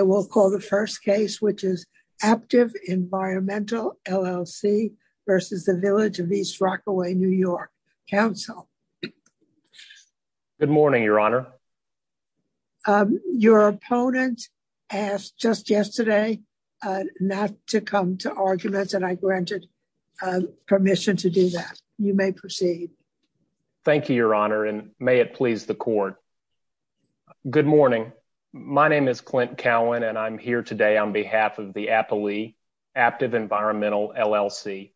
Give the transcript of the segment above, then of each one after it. Good morning, your honor. Your opponent asked just yesterday not to come to arguments and I granted permission to do that. You may proceed. Thank you, your honor, and may it please the court. Good morning. My name is Clint Cowan and I'm here today on behalf of the aptly active environmental LLC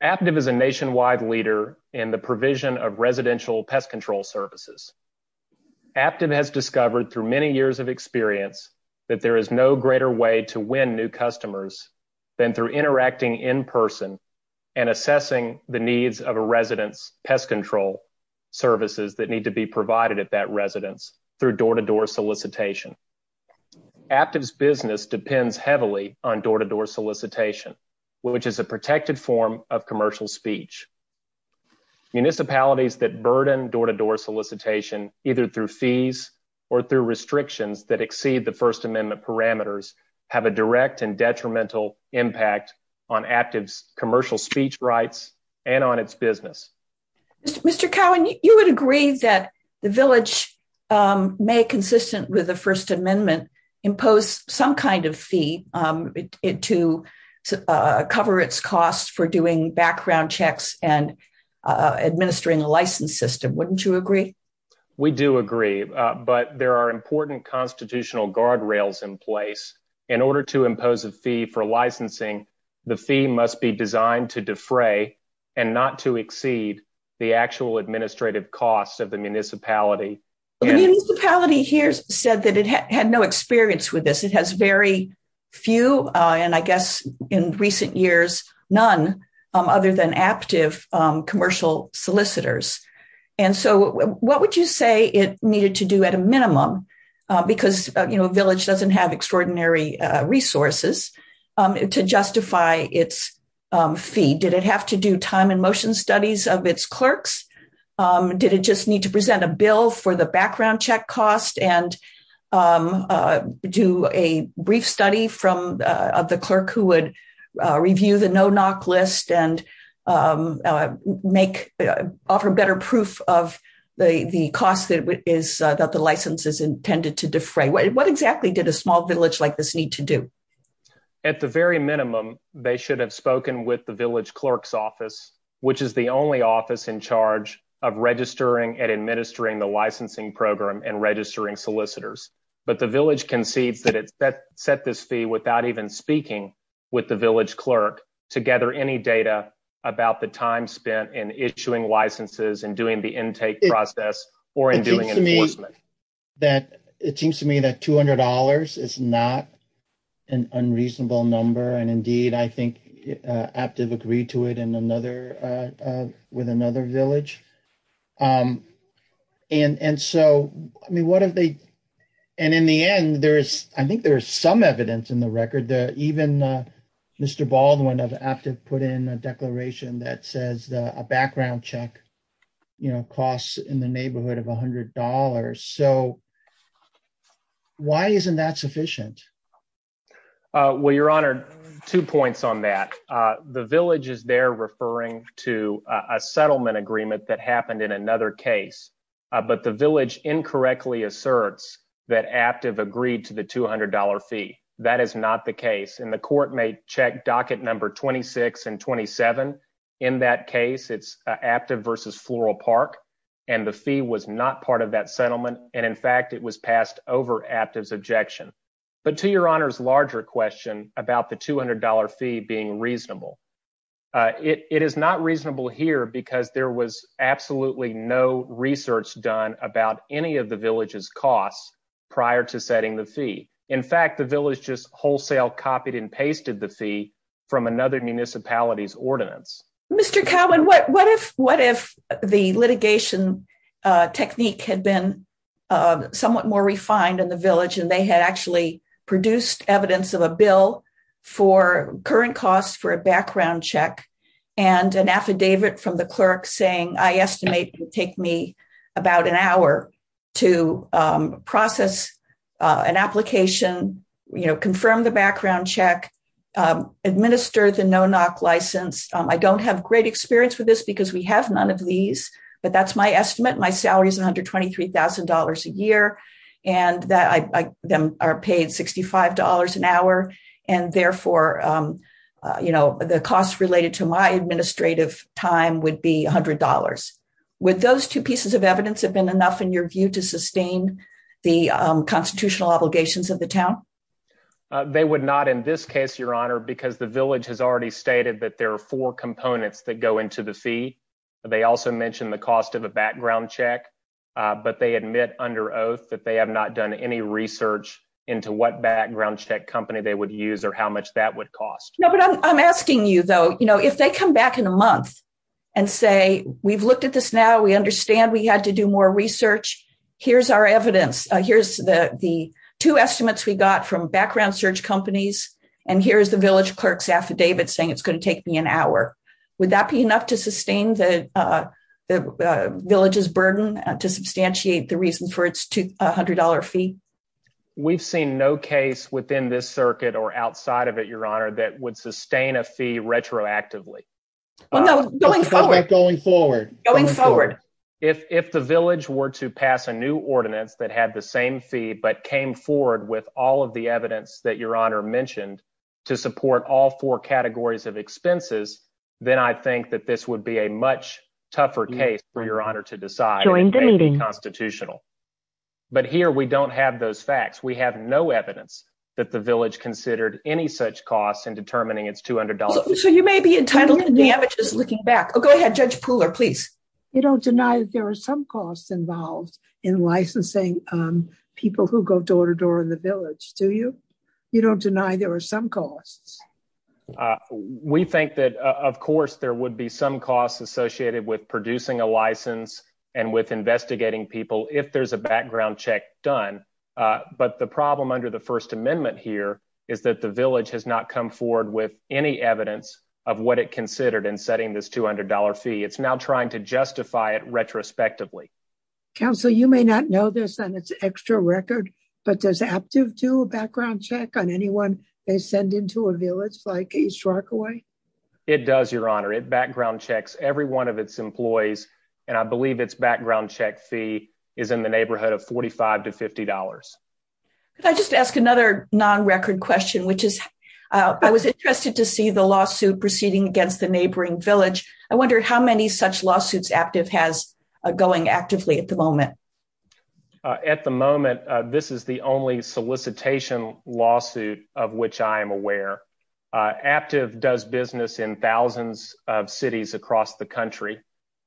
active is a nationwide leader in the provision of residential pest control services. Active has discovered through many years of experience that there is no greater way to win new customers than through interacting in person and assessing the needs of a residence pest control services that need to be provided at that residence through door to door solicitation. Actives business depends heavily on door to door solicitation, which is a protected form of commercial speech. Municipalities that burden door to door solicitation, either through fees or through restrictions that exceed the First Amendment parameters have a direct and detrimental impact on active commercial speech rights, and on its business. Mr. Cowan, you would agree that the village may consistent with the First Amendment impose some kind of fee to cover its costs for doing background checks and administering the license system wouldn't you agree. We do agree, but there are important constitutional guardrails in place in order to impose a fee for licensing. The fee must be designed to defray, and not to exceed the actual administrative costs of the municipality. The municipality here said that it had no experience with this, it has very few, and I guess in recent years, none other than active commercial solicitors. And so, what would you say it needed to do at a minimum, because you know village doesn't have extraordinary resources to justify its fee did it have to do time and motion studies of its clerks. Did it just need to present a bill for the background check cost and do a brief study from the clerk who would review the no knock list and make offer better proof of the cost that is that the license is intended to defray what exactly did a small village like this need to do. At the very minimum, they should have spoken with the village clerk's office, which is the only office in charge of registering and administering the licensing program and registering solicitors, but the village concedes that it's that set this fee without even speaking with the village clerk together any data about the time spent in issuing licenses and doing the intake process, or in doing me that it seems to me that $200 is not an unreasonable number and indeed I think active agree to it and another with another village. And and so I mean what have they. And in the end, there is, I think there's some evidence in the record that even Mr Baldwin of active put in a declaration that says a background check, you know costs in the neighborhood of $100 so. Why isn't that sufficient. Well, Your Honor, two points on that the village is they're referring to a settlement agreement that happened in another case, but the village incorrectly asserts that active agreed to the $200 fee, that is not the case and the court may check docket number 26 and 27. In that case, it's active versus floral park, and the fee was not part of that settlement, and in fact it was passed over active objection, but to your honors larger question about the $200 fee being reasonable. It is not reasonable here because there was absolutely no research done about any of the villages costs prior to setting the fee. In fact, the village just wholesale copied and pasted the fee from another municipalities ordinance. Mr Cowan what what if, what if the litigation technique had been somewhat more refined in the village and they had actually produced evidence of a bill for current costs for a background check and an affidavit from the clerk saying I estimate take me about an I have great experience with this because we have none of these, but that's my estimate my salary is $123,000 a year, and that I them are paid $65 an hour, and therefore, you know, the costs related to my administrative time would be $100 with those two pieces of evidence have been enough in your view to sustain the constitutional obligations of the town. They would not in this case your honor because the village has already stated that there are four components that go into the fee. They also mentioned the cost of a background check, but they admit under oath that they have not done any research into what background check or how much that would cost. No, but I'm asking you though you know if they come back in a month and say, we've looked at this now we understand we had to do more research. Here's our evidence. Here's the the two estimates we got from background search companies, and here's the village clerks affidavit saying it's going to take me an hour. Would that be enough to sustain the villages burden to substantiate the reason for its $200 fee. We've seen no case within this circuit or outside of it, your honor that would sustain a fee retroactively going forward, going forward. If the village were to pass a new ordinance that had the same fee but came forward with all of the evidence that your honor mentioned to support all four categories of expenses, then I think that this would be a much tougher case for your honor to decide constitutional. But here we don't have those facts we have no evidence that the village considered any such costs and determining it's $200. So you may be entitled to damages looking back Oh go ahead, Judge Pooler please. You don't deny that there are some costs involved in licensing. People who go door to door in the village to you. You don't deny there are some costs. We think that, of course, there would be some costs associated with producing a license and with investigating people if there's a background check done. But the problem under the First Amendment here is that the village has not come forward with any evidence of what it considered and setting this $200 fee it's now trying to justify it retrospectively. Council you may not know this and it's extra record, but does have to do a background check on anyone, they send into a village like a shark away. It does your honor it background checks every one of its employees, and I believe it's background check fee is in the neighborhood of 45 to $50. I just asked another non record question which is, I was interested to see the lawsuit proceeding against the neighboring village. I wondered how many such lawsuits active has going actively at the moment. At the moment, this is the only solicitation lawsuit, of which I am aware. Active does business in thousands of cities across the country.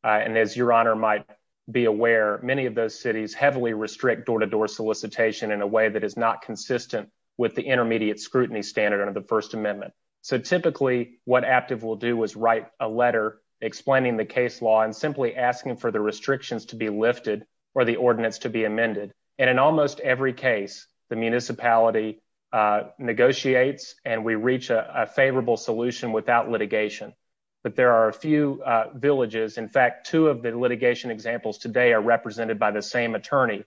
And as your honor might be aware, many of those cities heavily restrict door to door solicitation in a way that is not consistent with the intermediate scrutiny standard under the First Amendment. So typically, what active will do is write a letter, explaining the case law and simply asking for the restrictions to be lifted, or the ordinance to be amended. And in almost every case, the municipality negotiates, and we reach a favorable solution without litigation. But there are a few villages in fact two of the litigation examples today are represented by the same attorney,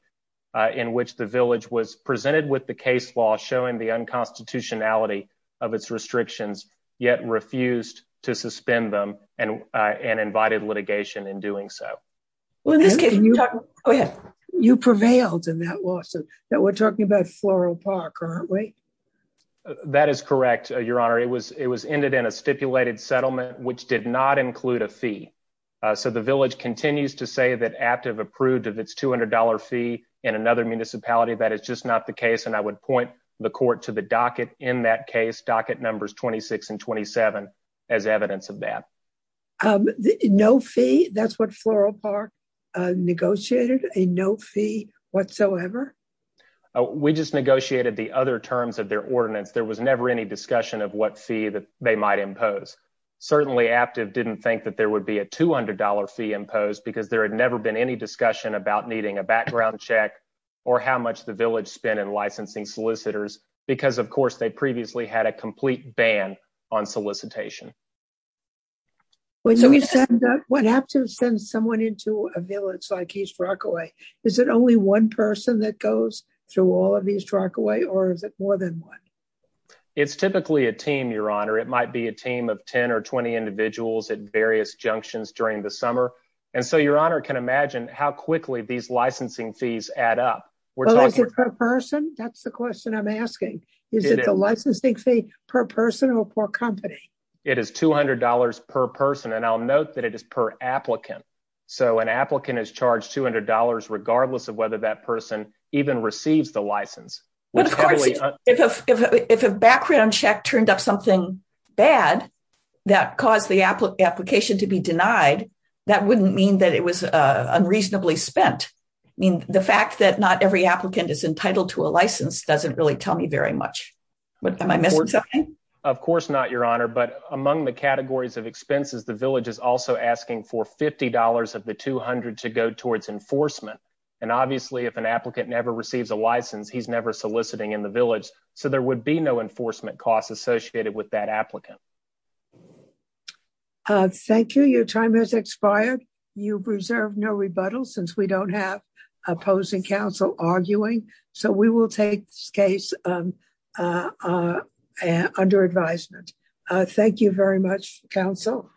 in which the village was presented with the case law showing the unconstitutionality of its restrictions, yet refused to suspend them and and invited litigation in doing so. Well, in this case, you prevailed in that lawsuit that we're talking about floral park, aren't we. That is correct, your honor it was it was ended in a stipulated settlement, which did not include a fee. So the village continues to say that active approved of its $200 fee in another municipality that is just not the case and I would point the court to the docket in that case docket numbers 26 and 27, as evidence of that. No fee, that's what floral park negotiated a no fee whatsoever. We just negotiated the other terms of their ordinance there was never any discussion of what fee that they might impose certainly active didn't think that there would be a $200 fee imposed because there had never been any discussion about needing a background check, or how to send someone into a village like East Rockaway. Is it only one person that goes through all of these track away or is it more than one. It's typically a team, your honor, it might be a team of 10 or 20 individuals at various junctions during the summer. And so your honor can imagine how quickly these licensing fees add up. That's the question I'm asking, is it a licensing fee per person or per company. It is $200 per person and I'll note that it is per applicant. So an applicant is charged $200 regardless of whether that person even receives the license. If a background check turned up something bad that caused the application to be denied. That wouldn't mean that it was unreasonably spent. I mean, the fact that not every applicant is entitled to a license doesn't really tell me very much. Of course not your honor but among the categories of expenses the village is also asking for $50 of the 200 to go towards enforcement. And obviously if an applicant never receives a license he's never soliciting in the village, so there would be no enforcement costs associated with that applicant. Thank you. Your time has expired. You preserve no rebuttal since we don't have opposing counsel arguing, so we will take this case under advisement. Thank you very much, counsel.